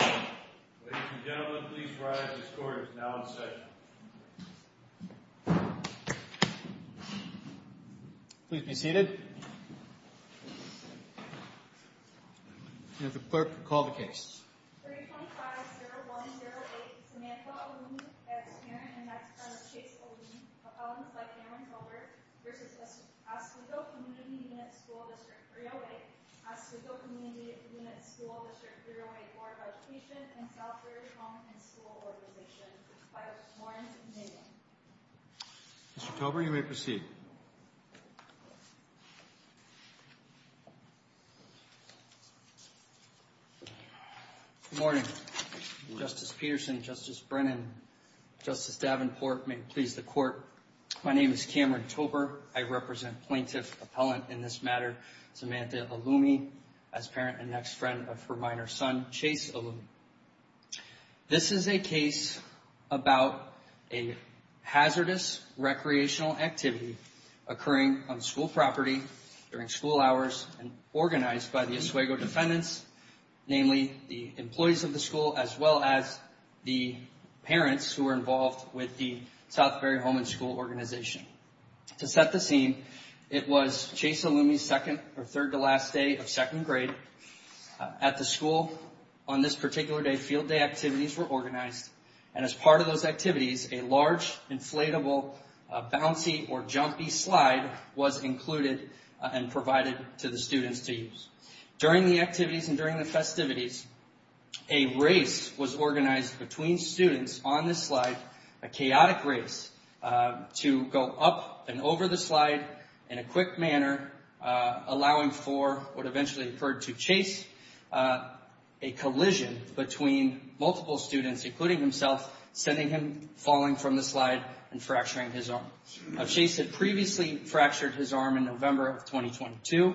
Ladies and gentlemen, please rise. This court is now in session. Please be seated. May the clerk call the case. 325-0108, Samantha Olumi v. Karen and her husband Chase Olumi v. Oswego Community Unit School District 308 Oswego Community Unit School District 308 Board of Education and Southridge Home and School Organization by a sworn amendment. Mr. Tober, you may proceed. Good morning. Justice Peterson, Justice Brennan, Justice Davenport, may it please the court, my name is Cameron Tober. I represent plaintiff appellant in this matter, Samantha Olumi, as parent and next friend of her minor son, Chase Olumi. This is a case about a hazardous recreational activity occurring on school property during school hours organized by the Oswego defendants, namely the employees of the school as well as the parents who are involved with the Southbury Home and School Organization. To set the scene, it was Chase Olumi's second or third to last day of second grade. At the school on this particular day, field day activities were organized, and as part of those activities, a large inflatable bouncy or jumpy slide was included and provided to the students to use. During the activities and during the festivities, a race was organized between students on this slide, a chaotic race to go up and over the slide in a quick manner, allowing for what eventually occurred to Chase, a collision between multiple students, including himself, sending him falling from the slide and fracturing his arm. Chase had previously fractured his arm in November of 2022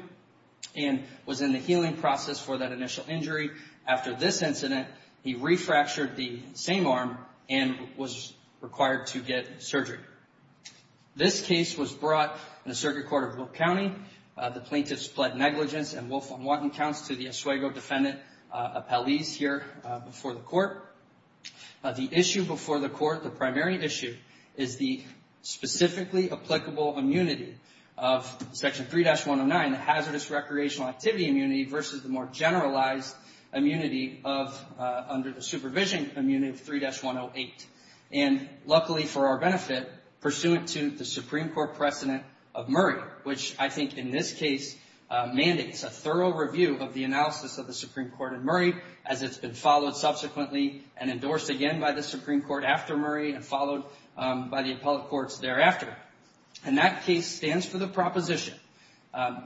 and was in the healing process for that initial injury. After this incident, he refractured the same arm and was required to get surgery. This case was brought in the Circuit Court of Brooke County. The plaintiffs pled negligence and Wolf v. Watten counts to the Oswego defendant appellees here before the court. The issue before the court, the primary issue, is the specifically applicable immunity of Section 3-109, the hazardous recreational activity immunity versus the more generalized immunity under the supervision immunity of 3-108. And luckily for our benefit, pursuant to the Supreme Court precedent of Murray, which I think in this case mandates a thorough review of the analysis of the Supreme Court in Murray, as it's been followed subsequently and endorsed again by the Supreme Court after Murray and followed by the appellate courts thereafter. And that case stands for the proposition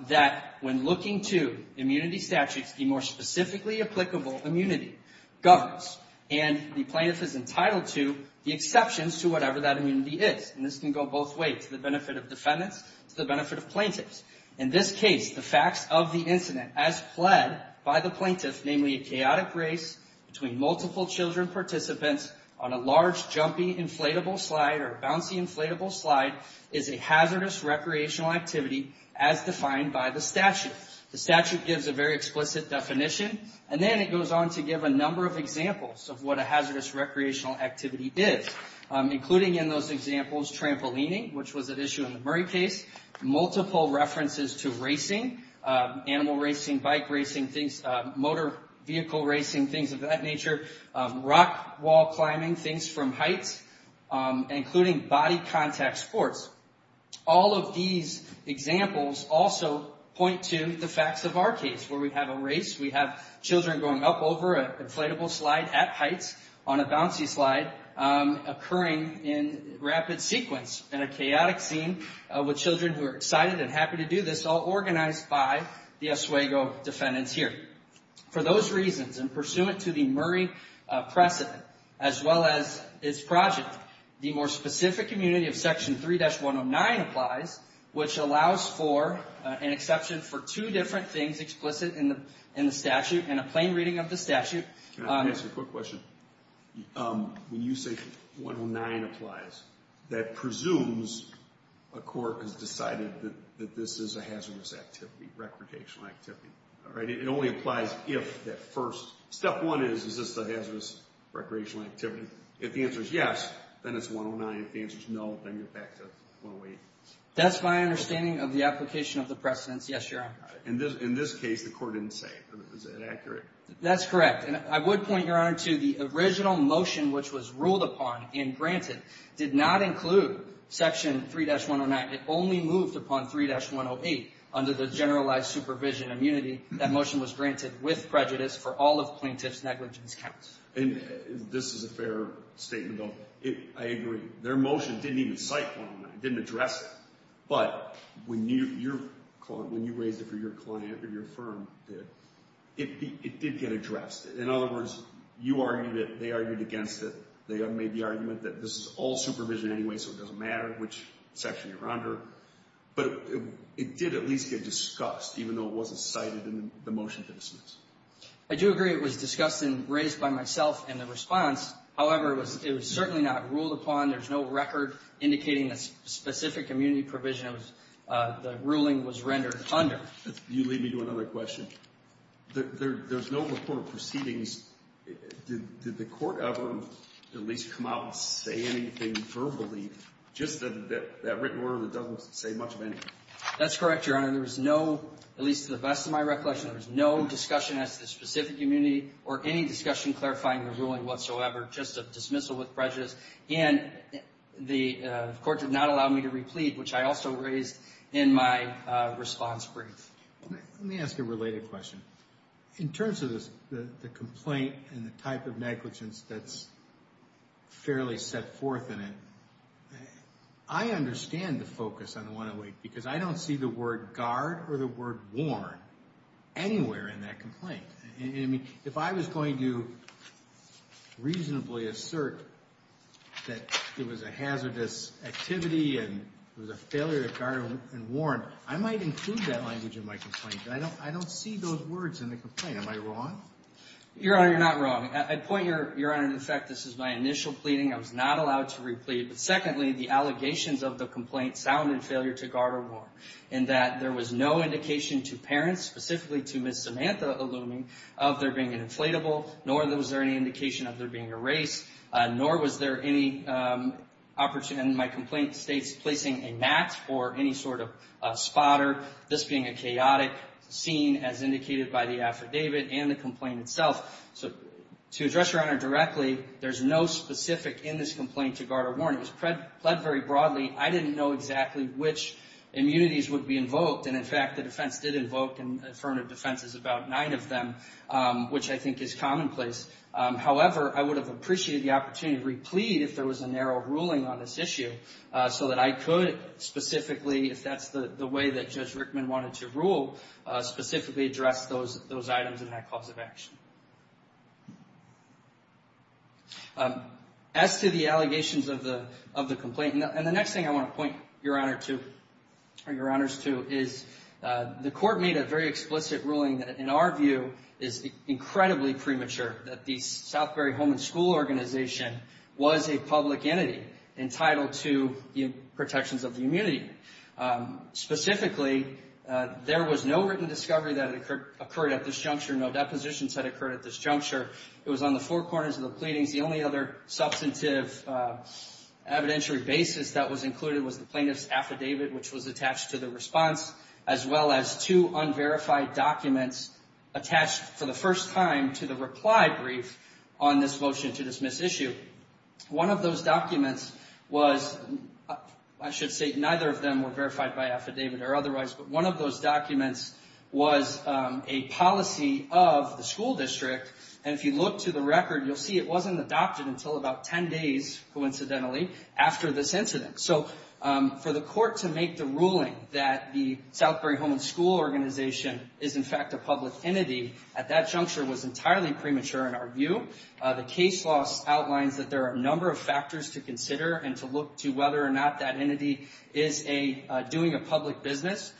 that when looking to immunity statutes, the more specifically applicable immunity governs and the plaintiff is entitled to the exceptions to whatever that immunity is. And this can go both ways, to the benefit of defendants, to the benefit of plaintiffs. In this case, the facts of the incident as pled by the plaintiff, namely a chaotic race between multiple children participants on a large, jumpy, inflatable slide or bouncy inflatable slide is a hazardous recreational activity as defined by the statute. The statute gives a very explicit definition. And then it goes on to give a number of examples of what a hazardous recreational activity is. Including in those examples, trampolining, which was an issue in the Murray case. Multiple references to racing, animal racing, bike racing, motor vehicle racing, things of that nature. Rock wall climbing, things from heights, including body contact sports. All of these examples also point to the facts of our case where we have a race. We have children going up over an inflatable slide at heights on a bouncy slide occurring in rapid sequence. In a chaotic scene with children who are excited and happy to do this, all organized by the Oswego defendants here. For those reasons, and pursuant to the Murray precedent, as well as its project, the more specific immunity of section 3-109 applies, which allows for an exception for two different things explicit in the statute and a plain reading of the statute. Can I ask you a quick question? When you say 109 applies, that presumes a court has decided that this is a hazardous activity, recreational activity. It only applies if that first, step one is, is this a hazardous recreational activity? If the answer is yes, then it's 109. If the answer is no, then you're back to 108. That's my understanding of the application of the precedence. Yes, Your Honor. In this case, the court didn't say. Is that accurate? That's correct. And I would point, Your Honor, to the original motion which was ruled upon and granted did not include section 3-109. It only moved upon 3-108 under the generalized supervision immunity. That motion was granted with prejudice for all of plaintiff's negligence counts. And this is a fair statement, though. I agree. Their motion didn't even cite 109. It didn't address it. But when you raised it for your client or your firm, it did get addressed. In other words, you argued it. They argued against it. They made the argument that this is all supervision anyway, so it doesn't matter which section you're under. But it did at least get discussed, even though it wasn't cited in the motion to dismiss. I do agree it was discussed and raised by myself in the response. However, it was certainly not ruled upon. There's no record indicating the specific immunity provision the ruling was rendered under. You lead me to another question. There's no report of proceedings. Did the court ever at least come out and say anything verbally, just that written word that doesn't say much of anything? That's correct, Your Honor. At least to the best of my recollection, there was no discussion as to the specific immunity or any discussion clarifying the ruling whatsoever, just a dismissal with prejudice. And the court did not allow me to replead, which I also raised in my response brief. Let me ask a related question. In terms of the complaint and the type of negligence that's fairly set forth in it, I understand the focus on the 108 because I don't see the word guard or the word warn anywhere in that complaint. If I was going to reasonably assert that it was a hazardous activity and it was a failure to guard and warn, I might include that language in my complaint, but I don't see those words in the complaint. Am I wrong? Your Honor, you're not wrong. I'd point, Your Honor, in effect, this is my initial pleading. I was not allowed to replead. But secondly, the allegations of the complaint sounded failure to guard or warn, in that there was no indication to parents, specifically to Ms. Samantha Alluming, of there being an inflatable, nor was there any indication of there being a race, nor was there any opportunity in my complaint states placing a mat or any sort of spotter, this being a chaotic scene as indicated by the affidavit and the complaint itself. To address, Your Honor, directly, there's no specific in this complaint to guard or warn. It was pled very broadly. I didn't know exactly which immunities would be invoked. And, in fact, the defense did invoke and affirmed a defense of about nine of them, which I think is commonplace. However, I would have appreciated the opportunity to replead if there was a narrow ruling on this issue, so that I could specifically, if that's the way that Judge Rickman wanted to rule, specifically address those items in that cause of action. As to the allegations of the complaint, and the next thing I want to point Your Honor to, or Your Honors to, is the court made a very explicit ruling that, in our view, is incredibly premature, that the Southbury Home and School Organization was a public entity entitled to protections of the immunity. Specifically, there was no written discovery that occurred at this juncture, no depositions that occurred at this juncture. It was on the four corners of the pleadings. The only other substantive evidentiary basis that was included was the plaintiff's affidavit, which was attached to the response, as well as two unverified documents attached for the first time to the reply brief on this motion to dismiss issue. One of those documents was, I should say, neither of them were verified by affidavit or otherwise, but one of those documents was a policy of the school district, and if you look to the record, you'll see it wasn't adopted until about 10 days, coincidentally, after this incident. So, for the court to make the ruling that the Southbury Home and School Organization is in fact a public entity at that juncture was entirely premature in our view. The case law outlines that there are a number of factors to consider and to look to whether or not that entity is doing a public business,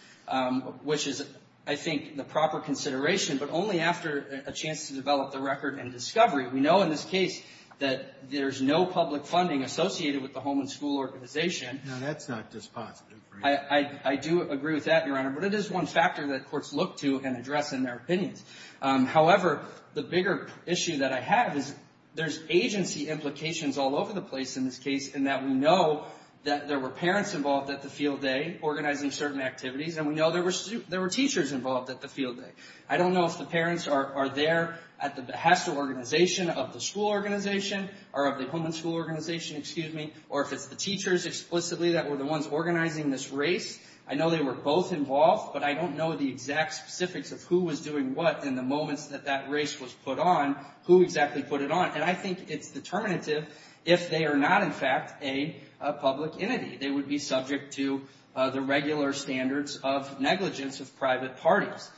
which is, I think, the proper consideration, but only after a chance to develop the record and discovery. We know in this case that there's no public funding associated with the home and school organization. Now, that's not dispositive for you. I do agree with that, Your Honor, but it is one factor that courts look to and address in their opinions. However, the bigger issue that I have is there's agency implications all over the place in this case in that we know that there were parents involved at the field day organizing certain activities, and we know there were teachers involved at the field day. I don't know if the parents are there at the behest of organization, of the school organization, or of the home and school organization, excuse me, or if it's the teachers explicitly that were the ones organizing this race. I know they were both involved, but I don't know the exact specifics of who was doing what in the moments that that race was put on, who exactly put it on. And I think it's determinative if they are not, in fact, a public entity. They would be subject to the regular standards of negligence of private parties.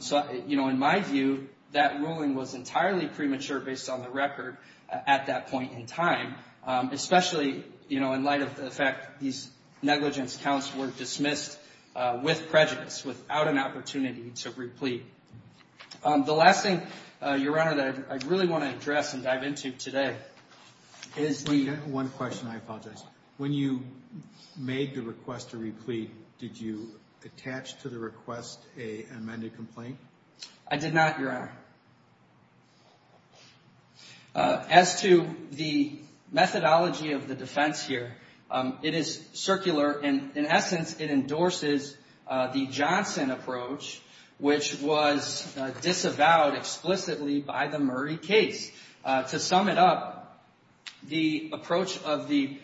So, you know, in my view, that ruling was entirely premature based on the record at that point in time, especially, you know, in light of the fact these negligence counts were dismissed with prejudice, without an opportunity to replete. The last thing, Your Honor, that I really want to address and dive into today is the- One question, I apologize. When you made the request to replete, did you attach to the request an amended complaint? I did not, Your Honor. As to the methodology of the defense here, it is circular. In essence, it endorses the Johnson approach, which was disavowed explicitly by the Murray case. To sum it up, the approach of the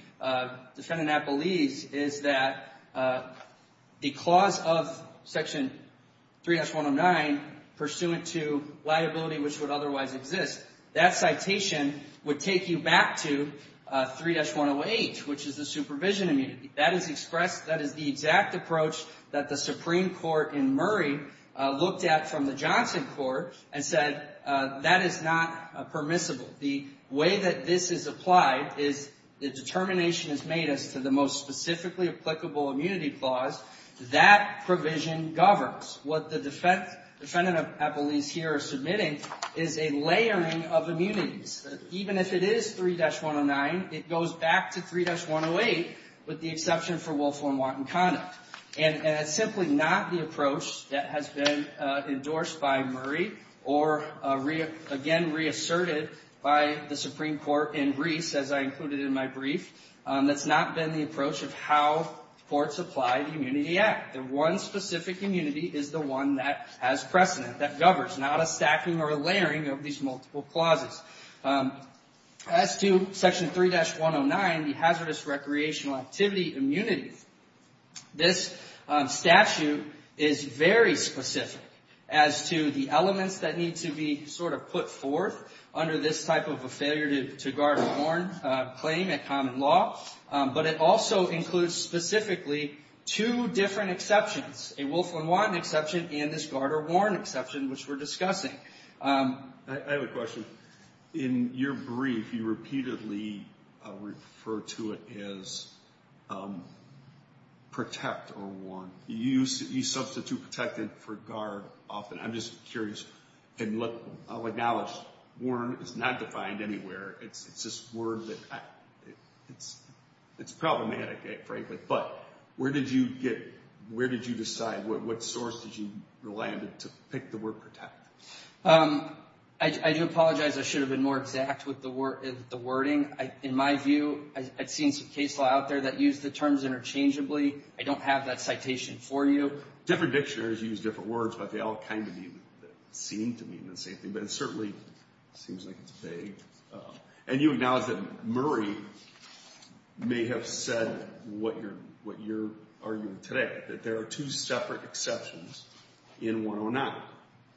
defendant that believes is that the clause of Section 3-109, pursuant to liability which would otherwise exist, that citation would take you back to 3-108, which is the supervision immunity. That is expressed, that is the exact approach that the Supreme Court in Murray looked at from the Johnson court and said that is not permissible. The way that this is applied is the determination is made as to the most specifically applicable immunity clause. That provision governs what the defendant at least here is submitting is a layering of immunities. Even if it is 3-109, it goes back to 3-108 with the exception for Wolfell and Watten conduct. It is simply not the approach that has been endorsed by Murray or again reasserted by the Supreme Court in Greece, as I included in my brief. That has not been the approach of how courts apply the Immunity Act. The one specific immunity is the one that has precedent, that governs, not a stacking or layering of these multiple clauses. As to Section 3-109, the Hazardous Recreational Activity Immunity, this statute is very specific as to the elements that need to be sort of put forth under this type of a failure to guard or warn claim at common law, but it also includes specifically two different exceptions, a Wolfell and Watten exception and this guard or warn exception which we are discussing. I have a question. In your brief, you repeatedly refer to it as protect or warn. You substitute protected for guard often. I'm just curious and I'll acknowledge warn is not defined anywhere. It's this word that's problematic, frankly, but where did you get, where did you decide, what source did you rely on to pick the word protect? I do apologize. I should have been more exact with the wording. In my view, I've seen some case law out there that use the terms interchangeably. I don't have that citation for you. Different dictionaries use different words, but they all kind of seem to mean the same thing, but it certainly seems like it's vague. And you acknowledge that Murray may have said what you're arguing today, that there are two separate exceptions in 109,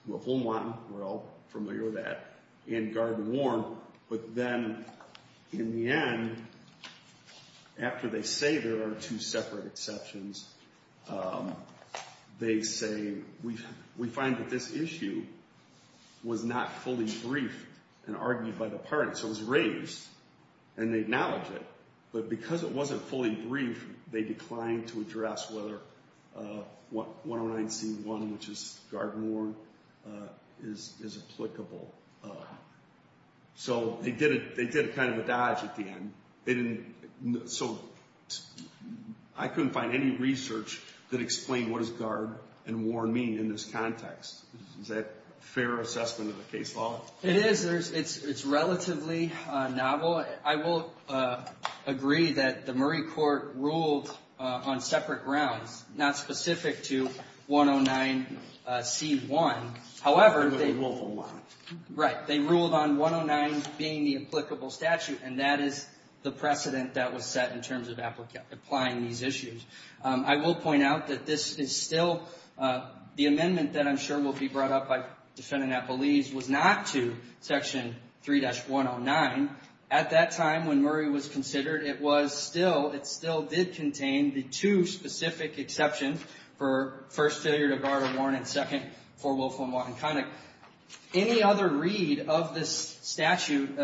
Wolfell and Watten, we're all familiar with that, and guard and warn, but then in the end, after they say there are two separate exceptions, they say we find that this issue was not fully briefed and argued by the parties. So it was raised and they acknowledge it, but because it wasn't fully briefed, they declined to address whether 109C1, which is guard and warn, is applicable. So they did kind of a dodge at the end. So I couldn't find any research that explained what does guard and warn mean in this context. Is that a fair assessment of the case law? It is. It's relatively novel. I will agree that the Murray court ruled on separate grounds, not specific to 109C1. However, they ruled on 109 being the applicable statute, and that is the precedent that was set in terms of applying these issues. I will point out that this is still the amendment that I'm sure will be brought up by defendant was not to Section 3-109. At that time when Murray was considered, it still did contain the two specific exceptions for first, failure to guard and warn, and second, for willful and wanton conduct. Any other read of this statute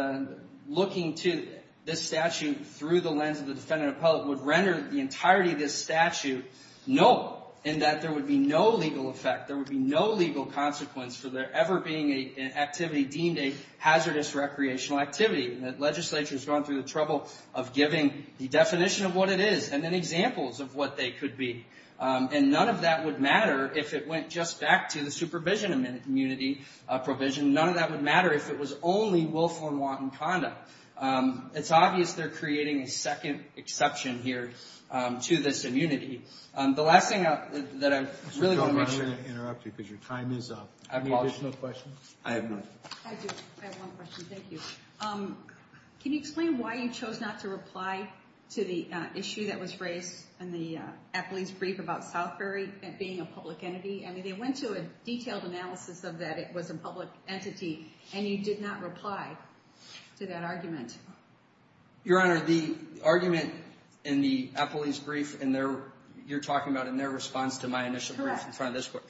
looking to this statute through the lens of the defendant appellate would render the entirety of this statute null, in that there would be no legal effect, there would be no legal consequence for there ever being an activity deemed a hazardous recreational activity. The legislature has gone through the trouble of giving the definition of what it is and then examples of what they could be. And none of that would matter if it went just back to the supervision immunity provision. None of that would matter if it was only willful and wanton conduct. It's obvious they're creating a second exception here to this immunity. The last thing that I'm really going to mention. I don't want to interrupt you because your time is up. Any additional questions? I have no questions. I do. I have one question. Thank you. Can you explain why you chose not to reply to the issue that was raised in the appellate's brief about Southbury being a public entity? I mean, they went to a detailed analysis of that it was a public entity, and you did not reply to that argument. Your Honor, the argument in the appellate's brief, you're talking about in their response to my initial brief in front of this court.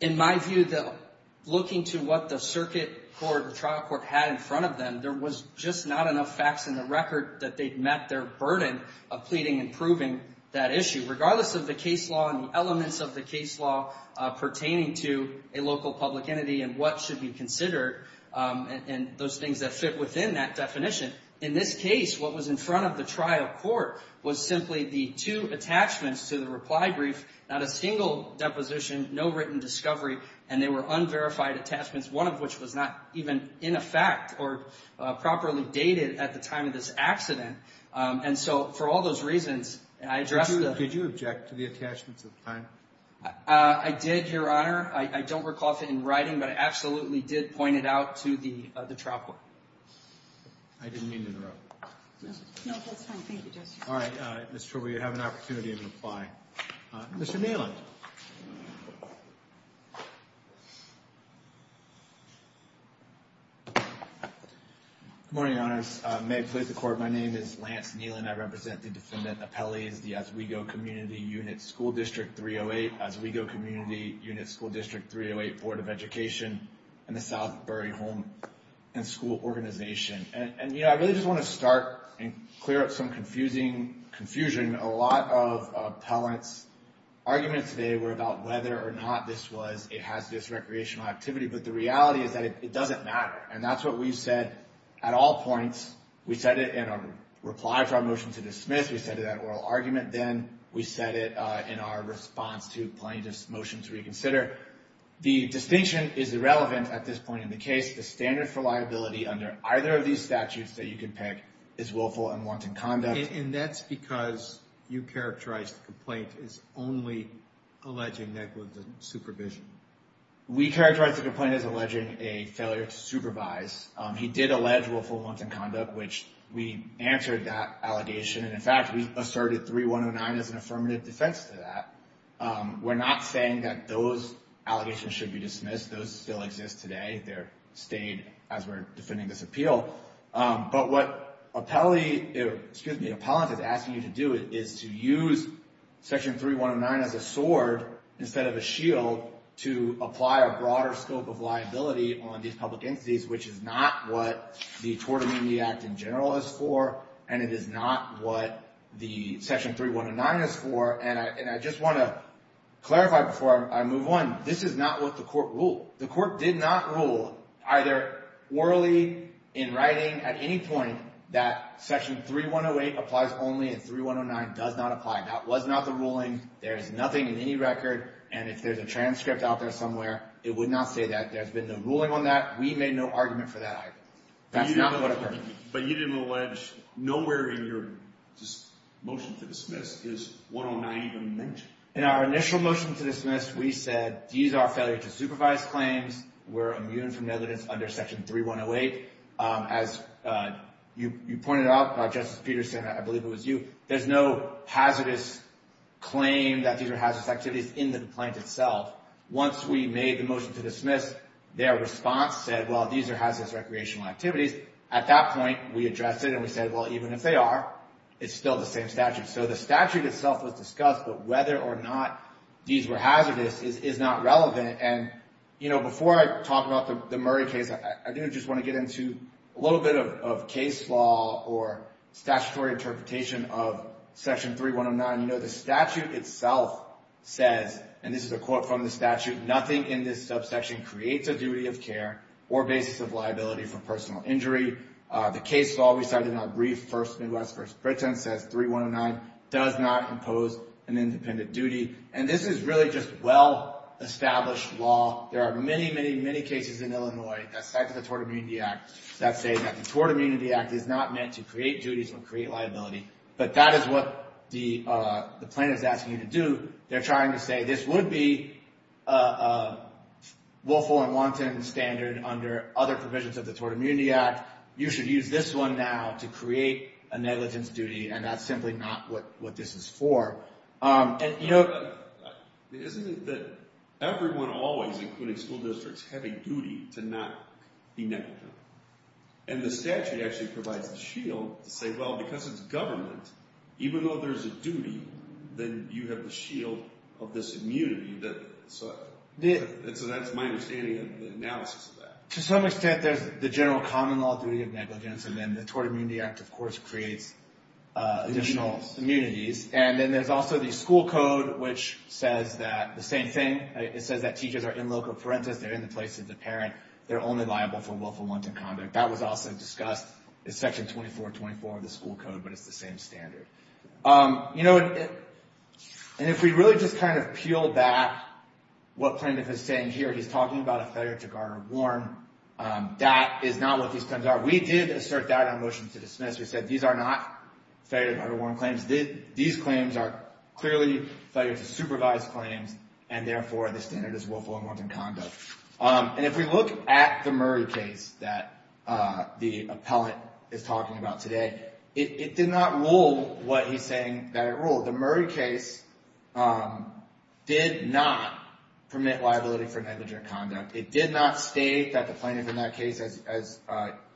In my view, looking to what the circuit court, the trial court had in front of them, there was just not enough facts in the record that they'd met their burden of pleading and proving that issue. Regardless of the case law and the elements of the case law pertaining to a local public entity and what should be considered and those things that fit within that definition. In this case, what was in front of the trial court was simply the two attachments to the reply brief, not a single deposition, no written discovery, and they were unverified attachments, one of which was not even in effect or properly dated at the time of this accident. And so for all those reasons, I addressed the… Did you object to the attachments at the time? I did, Your Honor. I don't recall if it in writing, but I absolutely did point it out to the trial court. I didn't mean to interrupt. No, that's fine. Thank you, Justice. All right, Mr. Trouble, you have an opportunity to reply. Mr. Neelan. Good morning, Your Honors. May it please the Court, my name is Lance Neelan. I represent the defendant appellees, the Oswego Community Unit School District 308, Oswego Community Unit School District 308 Board of Education, and the Southbury Home and School Organization. And, you know, I really just want to start and clear up some confusing confusion. A lot of appellants' arguments today were about whether or not this was, it has this recreational activity, but the reality is that it doesn't matter. And that's what we said at all points. We said it in a reply for our motion to dismiss. We said it at oral argument. Then we said it in our response to plaintiff's motion to reconsider. The distinction is irrelevant at this point in the case. The standard for liability under either of these statutes that you can pick is willful and wanton conduct. And that's because you characterized the complaint as only alleging negligent supervision. We characterized the complaint as alleging a failure to supervise. He did allege willful and wanton conduct, which we answered that allegation. And, in fact, we asserted 3109 as an affirmative defense to that. We're not saying that those allegations should be dismissed. Those still exist today. They're staying as we're defending this appeal. But what appellant is asking you to do is to use Section 3109 as a sword instead of a shield to apply a broader scope of liability on these public entities, which is not what the Tort Amendment Act in general is for, and it is not what the Section 3109 is for. And I just want to clarify before I move on. This is not what the court ruled. The court did not rule either orally in writing at any point that Section 3108 applies only and 3109 does not apply. That was not the ruling. There is nothing in any record. And if there's a transcript out there somewhere, it would not say that. There's been no ruling on that. We made no argument for that either. That's not what occurred. But you didn't allege nowhere in your motion to dismiss is 109 even mentioned. In our initial motion to dismiss, we said these are failure-to-supervise claims. We're immune from evidence under Section 3108. As you pointed out, Justice Peterson, I believe it was you, there's no hazardous claim that these are hazardous activities in the complaint itself. Once we made the motion to dismiss, their response said, well, these are hazardous recreational activities. At that point, we addressed it and we said, well, even if they are, it's still the same statute. So the statute itself was discussed, but whether or not these were hazardous is not relevant. And, you know, before I talk about the Murray case, I do just want to get into a little bit of case law or statutory interpretation of Section 3109. You know, the statute itself says, and this is a quote from the statute, nothing in this subsection creates a duty of care or basis of liability for personal injury. The case law we cited in our brief, First Midwest versus Britain, says 3109 does not impose an independent duty. And this is really just well-established law. There are many, many, many cases in Illinois that cite the Tort Immunity Act that say that the Tort Immunity Act is not meant to create duties or create liability. But that is what the plaintiff is asking you to do. They're trying to say this would be a willful and wanton standard under other provisions of the Tort Immunity Act. You should use this one now to create a negligence duty. And that's simply not what this is for. And, you know. Isn't it that everyone always, including school districts, have a duty to not be negligent? And the statute actually provides the shield to say, well, because it's government, even though there's a duty, then you have the shield of this immunity. So that's my understanding of the analysis of that. To some extent, there's the general common law duty of negligence, and then the Tort Immunity Act, of course, creates additional immunities. And then there's also the school code, which says the same thing. It says that teachers are in loco parentis. They're in the place of the parent. They're only liable for willful and wanton conduct. That was also discussed in Section 2424 of the school code, but it's the same standard. You know, and if we really just kind of peel back what plaintiff is saying here, he's talking about a failure to guard or warn. That is not what these claims are. We did assert that on motion to dismiss. We said these are not failure to guard or warn claims. These claims are clearly failure to supervise claims, and therefore the standard is willful and wanton conduct. And if we look at the Murray case that the appellant is talking about today, it did not rule what he's saying that it ruled. The Murray case did not permit liability for negligent conduct. It did not state that the plaintiff in that case, as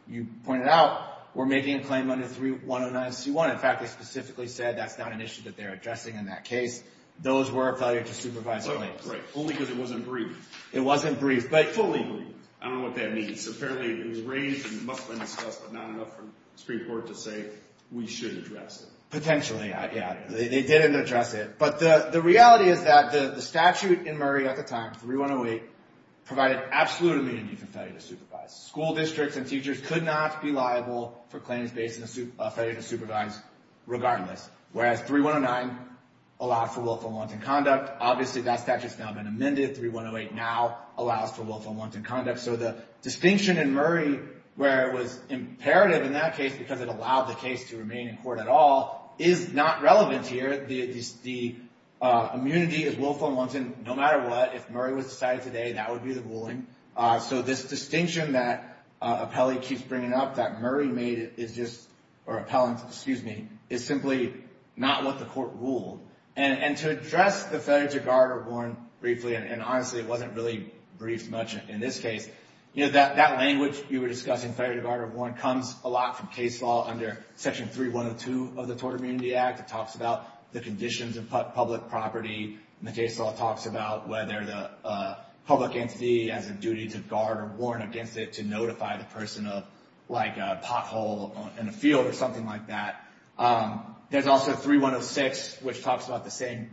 you pointed out, were making a claim under 309C1. In fact, they specifically said that's not an issue that they're addressing in that case. Those were failure to supervise claims. Right, only because it wasn't brief. It wasn't brief, but fully brief. I don't know what that means. Apparently it was raised and it must have been discussed, but not enough for the Supreme Court to say we should address it. Potentially, yeah. They didn't address it. But the reality is that the statute in Murray at the time, 3108, provided absolute amenity for failure to supervise. School districts and teachers could not be liable for claims based on failure to supervise regardless, whereas 3109 allowed for willful and wanton conduct. Obviously that statute has now been amended. 3108 now allows for willful and wanton conduct. So the distinction in Murray where it was imperative in that case because it allowed the case to remain in court at all, is not relevant here. The immunity is willful and wanton no matter what. If Murray was decided today, that would be the ruling. So this distinction that Appelli keeps bringing up that Murray made is just, or Appellant, excuse me, is simply not what the court ruled. And to address the failure to guard or warn briefly, and honestly it wasn't really briefed much in this case, that language you were discussing, failure to guard or warn, comes a lot from case law under Section 3102 of the Tort Immunity Act. It talks about the conditions of public property, and the case law talks about whether the public entity has a duty to guard or warn against it to notify the person of like a pothole in a field or something like that. There's also 3106 which talks about the same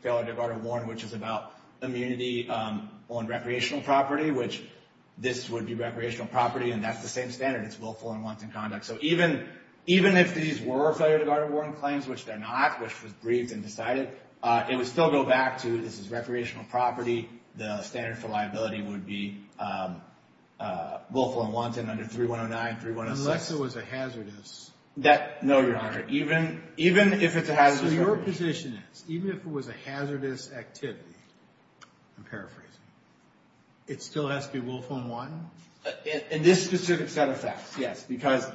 failure to guard or warn, which is about immunity on recreational property, which this would be recreational property, and that's the same standard. It's willful and wanton conduct. So even if these were failure to guard or warn claims, which they're not, which was briefed and decided, it would still go back to this is recreational property. The standard for liability would be willful and wanton under 3109, 3106. Unless it was a hazardous. No, Your Honor. Even if it's a hazardous activity. So your position is even if it was a hazardous activity, I'm paraphrasing, it still has to be willful and wanton? In this specific set of facts, yes. Because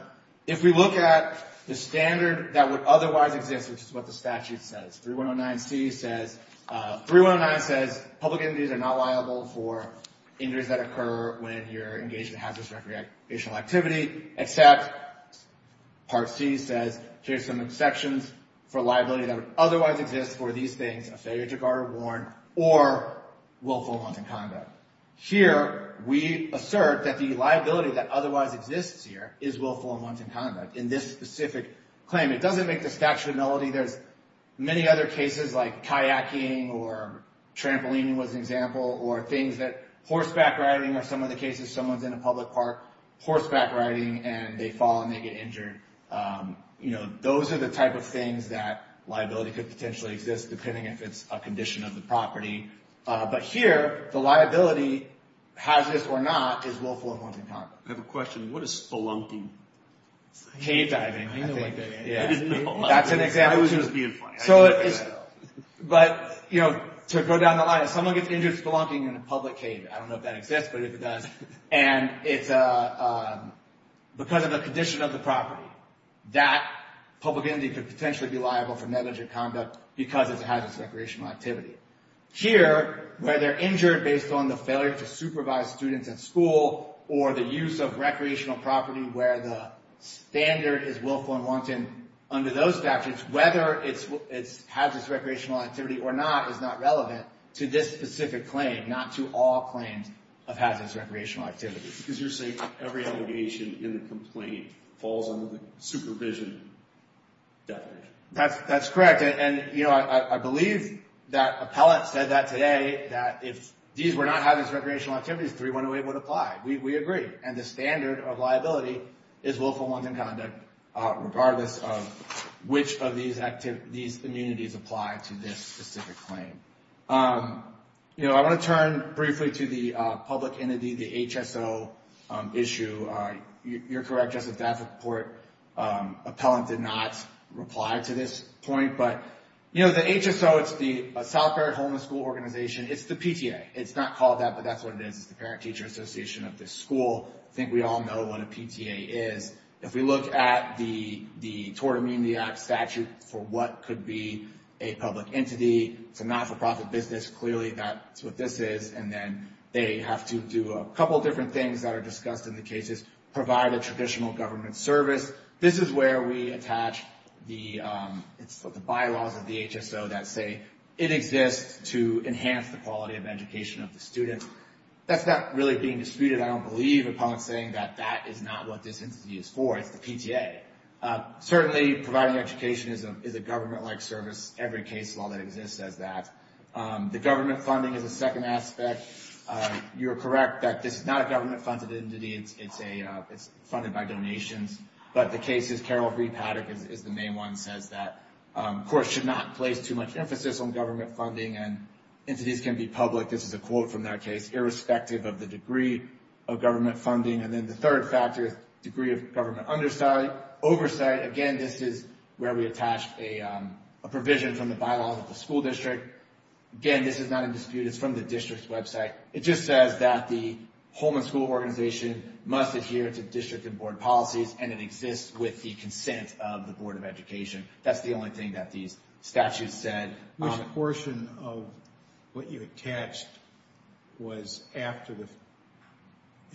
if we look at the standard that would otherwise exist, which is what the statute says, 3109c says, 3109 says public entities are not liable for injuries that occur when you're engaged in hazardous recreational activity, except Part C says here's some exceptions for liability that would otherwise exist for these things, a failure to guard or warn, or willful and wanton conduct. Here we assert that the liability that otherwise exists here is willful and wanton conduct. In this specific claim, it doesn't make the statute a nullity. There's many other cases like kayaking or trampolining was an example, or things that horseback riding, or some of the cases someone's in a public park horseback riding and they fall and they get injured. Those are the type of things that liability could potentially exist, depending if it's a condition of the property. But here, the liability, hazardous or not, is willful and wanton conduct. I have a question. What is spelunking? Cave diving, I think. I didn't know that. That's an example. I was just being funny. But to go down the line, if someone gets injured spelunking in a public cave, I don't know if that exists, but if it does, and it's because of the condition of the property, that public entity could potentially be liable for negligent conduct because it's a hazardous recreational activity. Here, where they're injured based on the failure to supervise students at school or the use of recreational property where the standard is willful and wanton under those statutes, whether it's hazardous recreational activity or not is not relevant to this specific claim, not to all claims of hazardous recreational activity. Because you're saying every obligation in the complaint falls under the supervision definition. That's correct. And I believe that appellate said that today, that if these were not hazardous recreational activities, 3108 would apply. We agree. And the standard of liability is willful and wanton conduct, regardless of which of these immunities apply to this specific claim. I want to turn briefly to the public entity, the HSO issue. You're correct, Justice Davenport. Appellant did not reply to this point. But the HSO, it's the South Barrett Homeless School Organization. It's the PTA. It's not called that, but that's what it is. It's the Parent Teacher Association of this school. I think we all know what a PTA is. If we look at the Tort Amenity Act statute for what could be a public entity, it's a not-for-profit business, clearly that's what this is. And then they have to do a couple different things that are discussed in the cases, provide a traditional government service. This is where we attach the bylaws of the HSO that say it exists to enhance the quality of education of the students. That's not really being disputed. I don't believe Appellant's saying that that is not what this entity is for. It's the PTA. Certainly, providing education is a government-like service. Every case law that exists says that. The government funding is a second aspect. You are correct that this is not a government-funded entity. It's funded by donations. But the cases, Carol Fried-Paddock is the main one, says that courts should not place too much emphasis on government funding, and entities can be public. This is a quote from that case, irrespective of the degree of government funding. And then the third factor is degree of government oversight. Again, this is where we attach a provision from the bylaws of the school district. Again, this is not in dispute. It's from the district's website. It just says that the Holman School Organization must adhere to district and board policies, and it exists with the consent of the Board of Education. That's the only thing that these statutes said. Which portion of what you attached was after the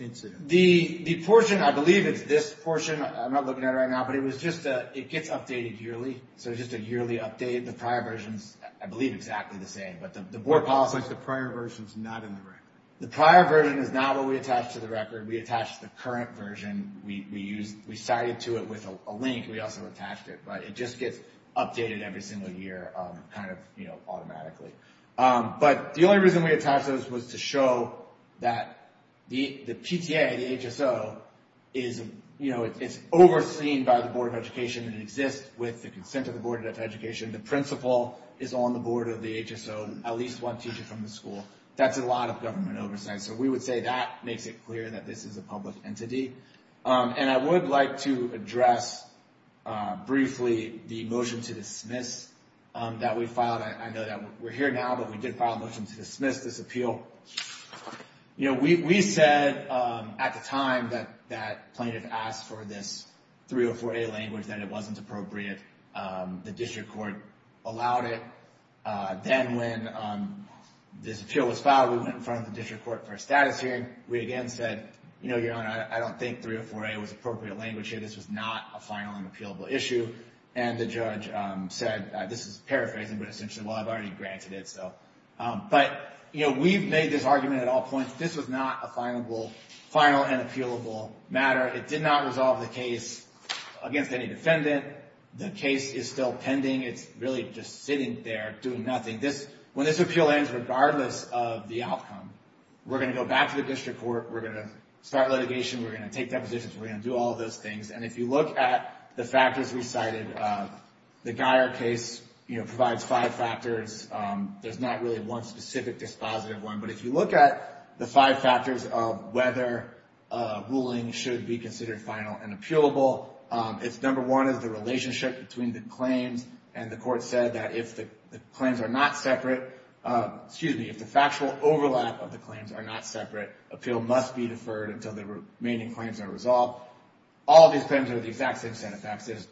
incident? The portion, I believe it's this portion. I'm not looking at it right now, but it gets updated yearly. So it's just a yearly update. The prior version is, I believe, exactly the same. But the board policy is not in the record. The prior version is not what we attached to the record. We attached the current version. We cited to it with a link. We also attached it. But it just gets updated every single year kind of automatically. But the only reason we attached those was to show that the PTA, the HSO, is overseen by the Board of Education. It exists with the consent of the Board of Education. The principal is on the board of the HSO, at least one teacher from the school. That's a lot of government oversight. So we would say that makes it clear that this is a public entity. And I would like to address briefly the motion to dismiss that we filed. I know that we're here now, but we did file a motion to dismiss this appeal. We said at the time that plaintiff asked for this 304A language, that it wasn't appropriate. The district court allowed it. Then when this appeal was filed, we went in front of the district court for a status hearing. We again said, you know, Your Honor, I don't think 304A was appropriate language here. This was not a final and appealable issue. And the judge said, this is paraphrasing, but essentially, well, I've already granted it. But, you know, we've made this argument at all points. This was not a final and appealable matter. It did not resolve the case against any defendant. The case is still pending. It's really just sitting there doing nothing. When this appeal ends, regardless of the outcome, we're going to go back to the district court. We're going to start litigation. We're going to take depositions. We're going to do all those things. And if you look at the factors we cited, the Guyer case provides five factors. There's not really one specific dispositive one. But if you look at the five factors of whether a ruling should be considered final and appealable, it's number one is the relationship between the claims. And the court said that if the claims are not separate, excuse me, if the factual overlap of the claims are not separate, appeal must be deferred until the remaining claims are resolved. All these claims are the exact same set of facts. There's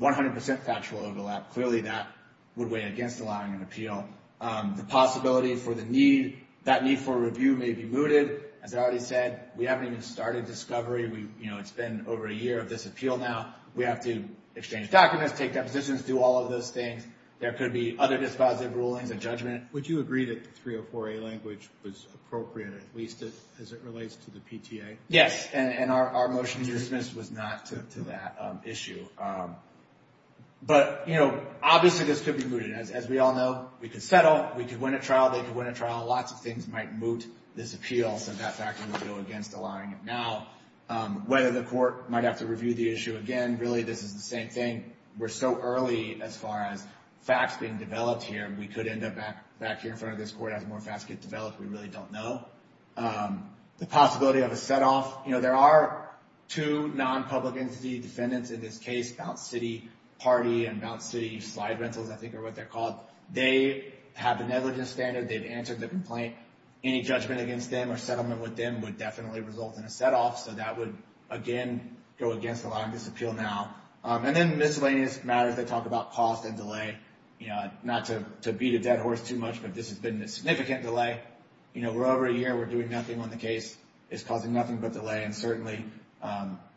100% factual overlap. Clearly, that would weigh against allowing an appeal. The possibility for the need, that need for review may be mooted. As I already said, we haven't even started discovery. It's been over a year of this appeal now. We have to exchange documents, take depositions, do all of those things. There could be other dispositive rulings, a judgment. Would you agree that the 304A language was appropriate at least as it relates to the PTA? Yes, and our motion to dismiss was not to that issue. But, you know, obviously this could be mooted. As we all know, we could settle. We could win a trial. They could win a trial. Lots of things might moot this appeal, so that factor would go against allowing it now. Whether the court might have to review the issue again, really this is the same thing. We're so early as far as facts being developed here. We could end up back here in front of this court as more facts get developed. We really don't know. The possibility of a set-off. You know, there are two non-public entity defendants in this case, Bounce City Party and Bounce City Slide Rentals, I think are what they're called. They have the negligence standard. They've answered the complaint. Any judgment against them or settlement with them would definitely result in a set-off. So that would, again, go against allowing this appeal now. And then miscellaneous matters that talk about cost and delay. You know, not to beat a dead horse too much, but this has been a significant delay. You know, we're over a year. We're doing nothing when the case is causing nothing but delay. And certainly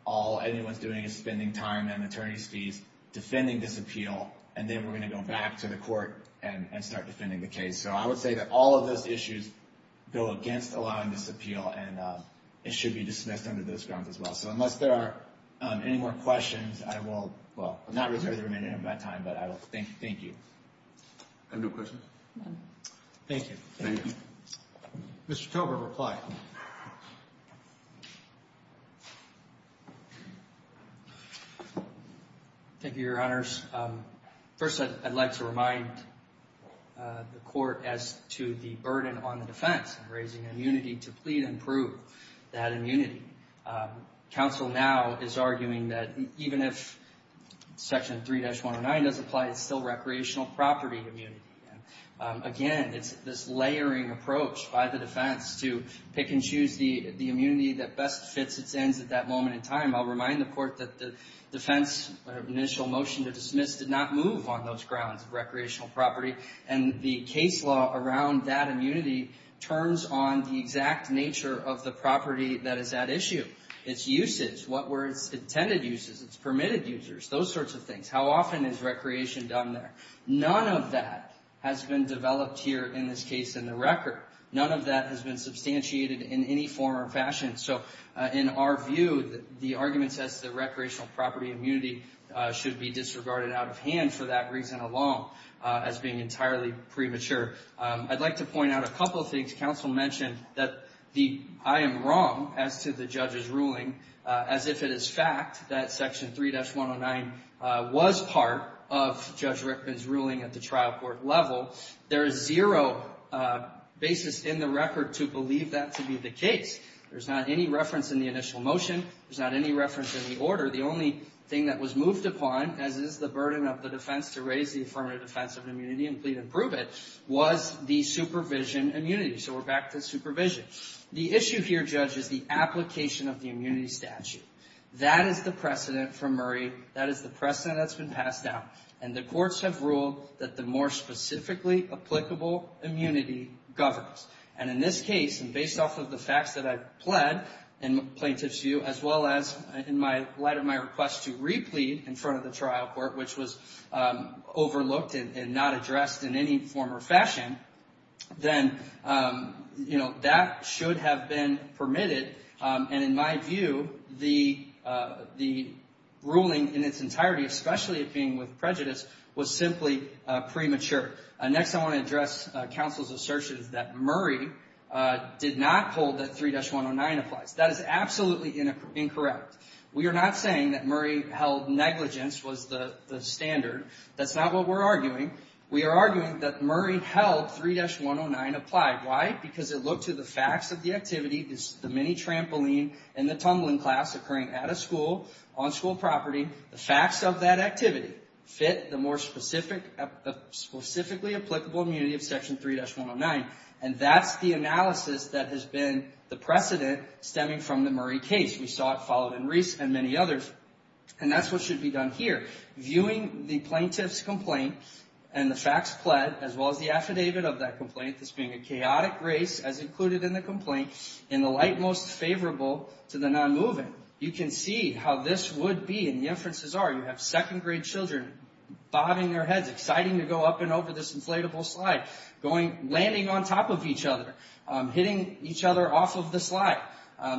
all anyone's doing is spending time and attorney's fees defending this appeal. And then we're going to go back to the court and start defending the case. So I would say that all of those issues go against allowing this appeal, and it should be dismissed under those grounds as well. So unless there are any more questions, I will, well, not reserve the remaining of my time, but I will thank you. I have no questions. Thank you. Thank you. Mr. Tober, reply. Thank you, Your Honors. First, I'd like to remind the court as to the burden on the defense, raising immunity to plead and prove that immunity. Counsel now is arguing that even if Section 3-109 does apply, it's still recreational property immunity. Again, it's this layering approach by the defense to pick and choose the immunity that best fits its ends at that moment in time. I'll remind the court that the defense initial motion to dismiss did not move on those grounds, recreational property, and the case law around that immunity turns on the exact nature of the property that is at issue, its usage, what were its intended uses, its permitted users, those sorts of things. How often is recreation done there? None of that has been developed here in this case in the record. None of that has been substantiated in any form or fashion. So in our view, the argument says that recreational property immunity should be disregarded out of hand for that reason alone as being entirely premature. I'd like to point out a couple of things. Counsel mentioned that I am wrong as to the judge's ruling as if it is fact that Section 3-109 was part of Judge Rickman's ruling at the trial court level. There is zero basis in the record to believe that to be the case. There's not any reference in the initial motion. There's not any reference in the order. The only thing that was moved upon, as is the burden of the defense to raise the affirmative defense of immunity and plead and prove it, was the supervision immunity. So we're back to supervision. The issue here, Judge, is the application of the immunity statute. That is the precedent from Murray. That is the precedent that's been passed down. And the courts have ruled that the more specifically applicable immunity governs. And in this case, based off of the facts that I've pled in plaintiff's view, as well as in light of my request to re-plead in front of the trial court, which was overlooked and not addressed in any form or fashion, then that should have been permitted. And in my view, the ruling in its entirety, especially it being with prejudice, was simply premature. Next, I want to address counsel's assertion that Murray did not hold that 3-109 applies. That is absolutely incorrect. We are not saying that Murray held negligence was the standard. That's not what we're arguing. We are arguing that Murray held 3-109 applied. Why? Because it looked to the facts of the activity, the mini trampoline and the tumbling class occurring at a school, on school property. The facts of that activity fit the more specifically applicable immunity of Section 3-109. And that's the analysis that has been the precedent stemming from the Murray case. We saw it followed in Reese and many others. And that's what should be done here. Viewing the plaintiff's complaint and the facts pled, as well as the affidavit of that complaint, this being a chaotic race as included in the complaint, in the light most favorable to the non-moving, you can see how this would be. And the inferences are you have second-grade children bobbing their heads, exciting to go up and over this inflatable slide, landing on top of each other, hitting each other off of the slide.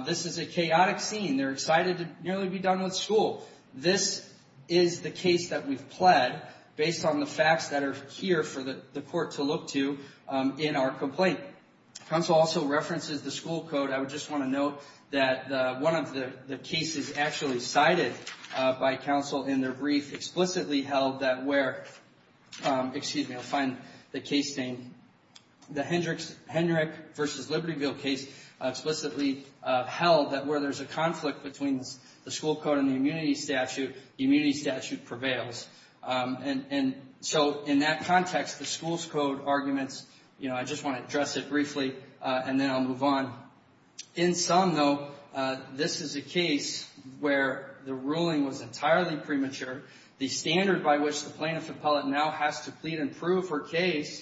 This is a chaotic scene. They're excited to nearly be done with school. This is the case that we've pled based on the facts that are here for the court to look to in our complaint. Counsel also references the school code. I just want to note that one of the cases actually cited by counsel in their brief explicitly held that where, excuse me, I'll find the case name. The Hendrick versus Libertyville case explicitly held that where there's a conflict between the school code and the immunity statute, the immunity statute prevails. And so in that context, the school's code arguments, you know, I just want to address it briefly, and then I'll move on. In some, though, this is a case where the ruling was entirely premature. The standard by which the plaintiff appellate now has to plead and prove her case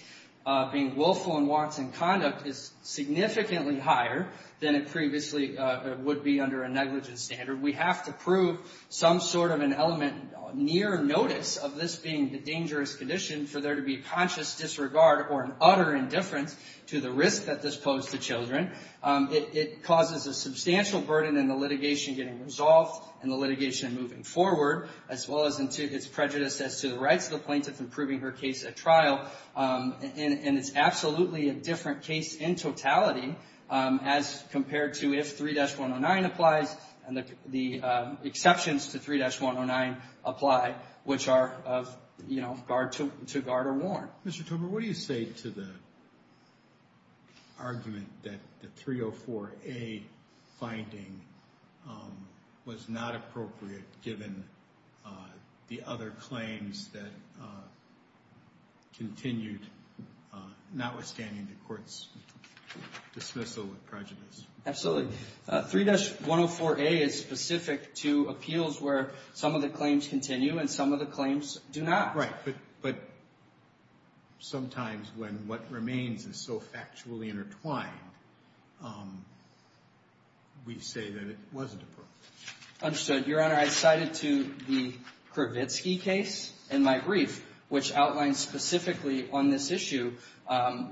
being willful in wants and conduct is significantly higher than it previously would be under a negligence standard. We have to prove some sort of an element near notice of this being a dangerous condition for there to be conscious disregard or an utter indifference to the risk that this posed to children. It causes a substantial burden in the litigation getting resolved and the litigation moving forward, as well as its prejudice as to the rights of the plaintiff in proving her case at trial. And it's absolutely a different case in totality as compared to if 3-109 applies and the exceptions to 3-109 apply, which are, you know, to guard or warn. Mr. Tober, what do you say to the argument that the 304A finding was not appropriate given the other claims that continued, notwithstanding the court's dismissal of prejudice? Absolutely. 3-104A is specific to appeals where some of the claims continue and some of the claims do not. Right, but sometimes when what remains is so factually intertwined, we say that it wasn't appropriate. Understood. Your Honor, I cited to the Kravitsky case in my brief, which outlined specifically on this issue,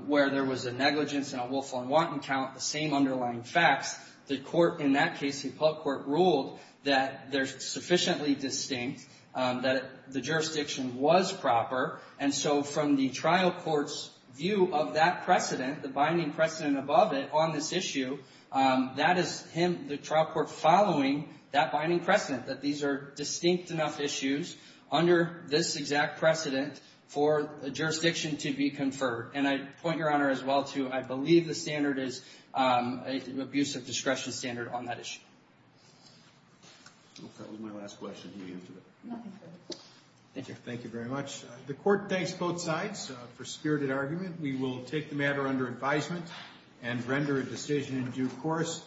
where there was a negligence and a willful and wanton count, the same underlying facts. The court in that case, the appellate court, ruled that they're sufficiently distinct, that the jurisdiction was proper. And so from the trial court's view of that precedent, the binding precedent above it on this issue, that is him, the trial court, following that binding precedent, that these are distinct enough issues under this exact precedent for a jurisdiction to be conferred. And I point, Your Honor, as well to I believe the standard is an abuse of discretion standard on that issue. I hope that was my last question. Nothing further. Thank you. Thank you very much. The court thanks both sides for spirited argument. We will take the matter under advisement and render a decision in due course.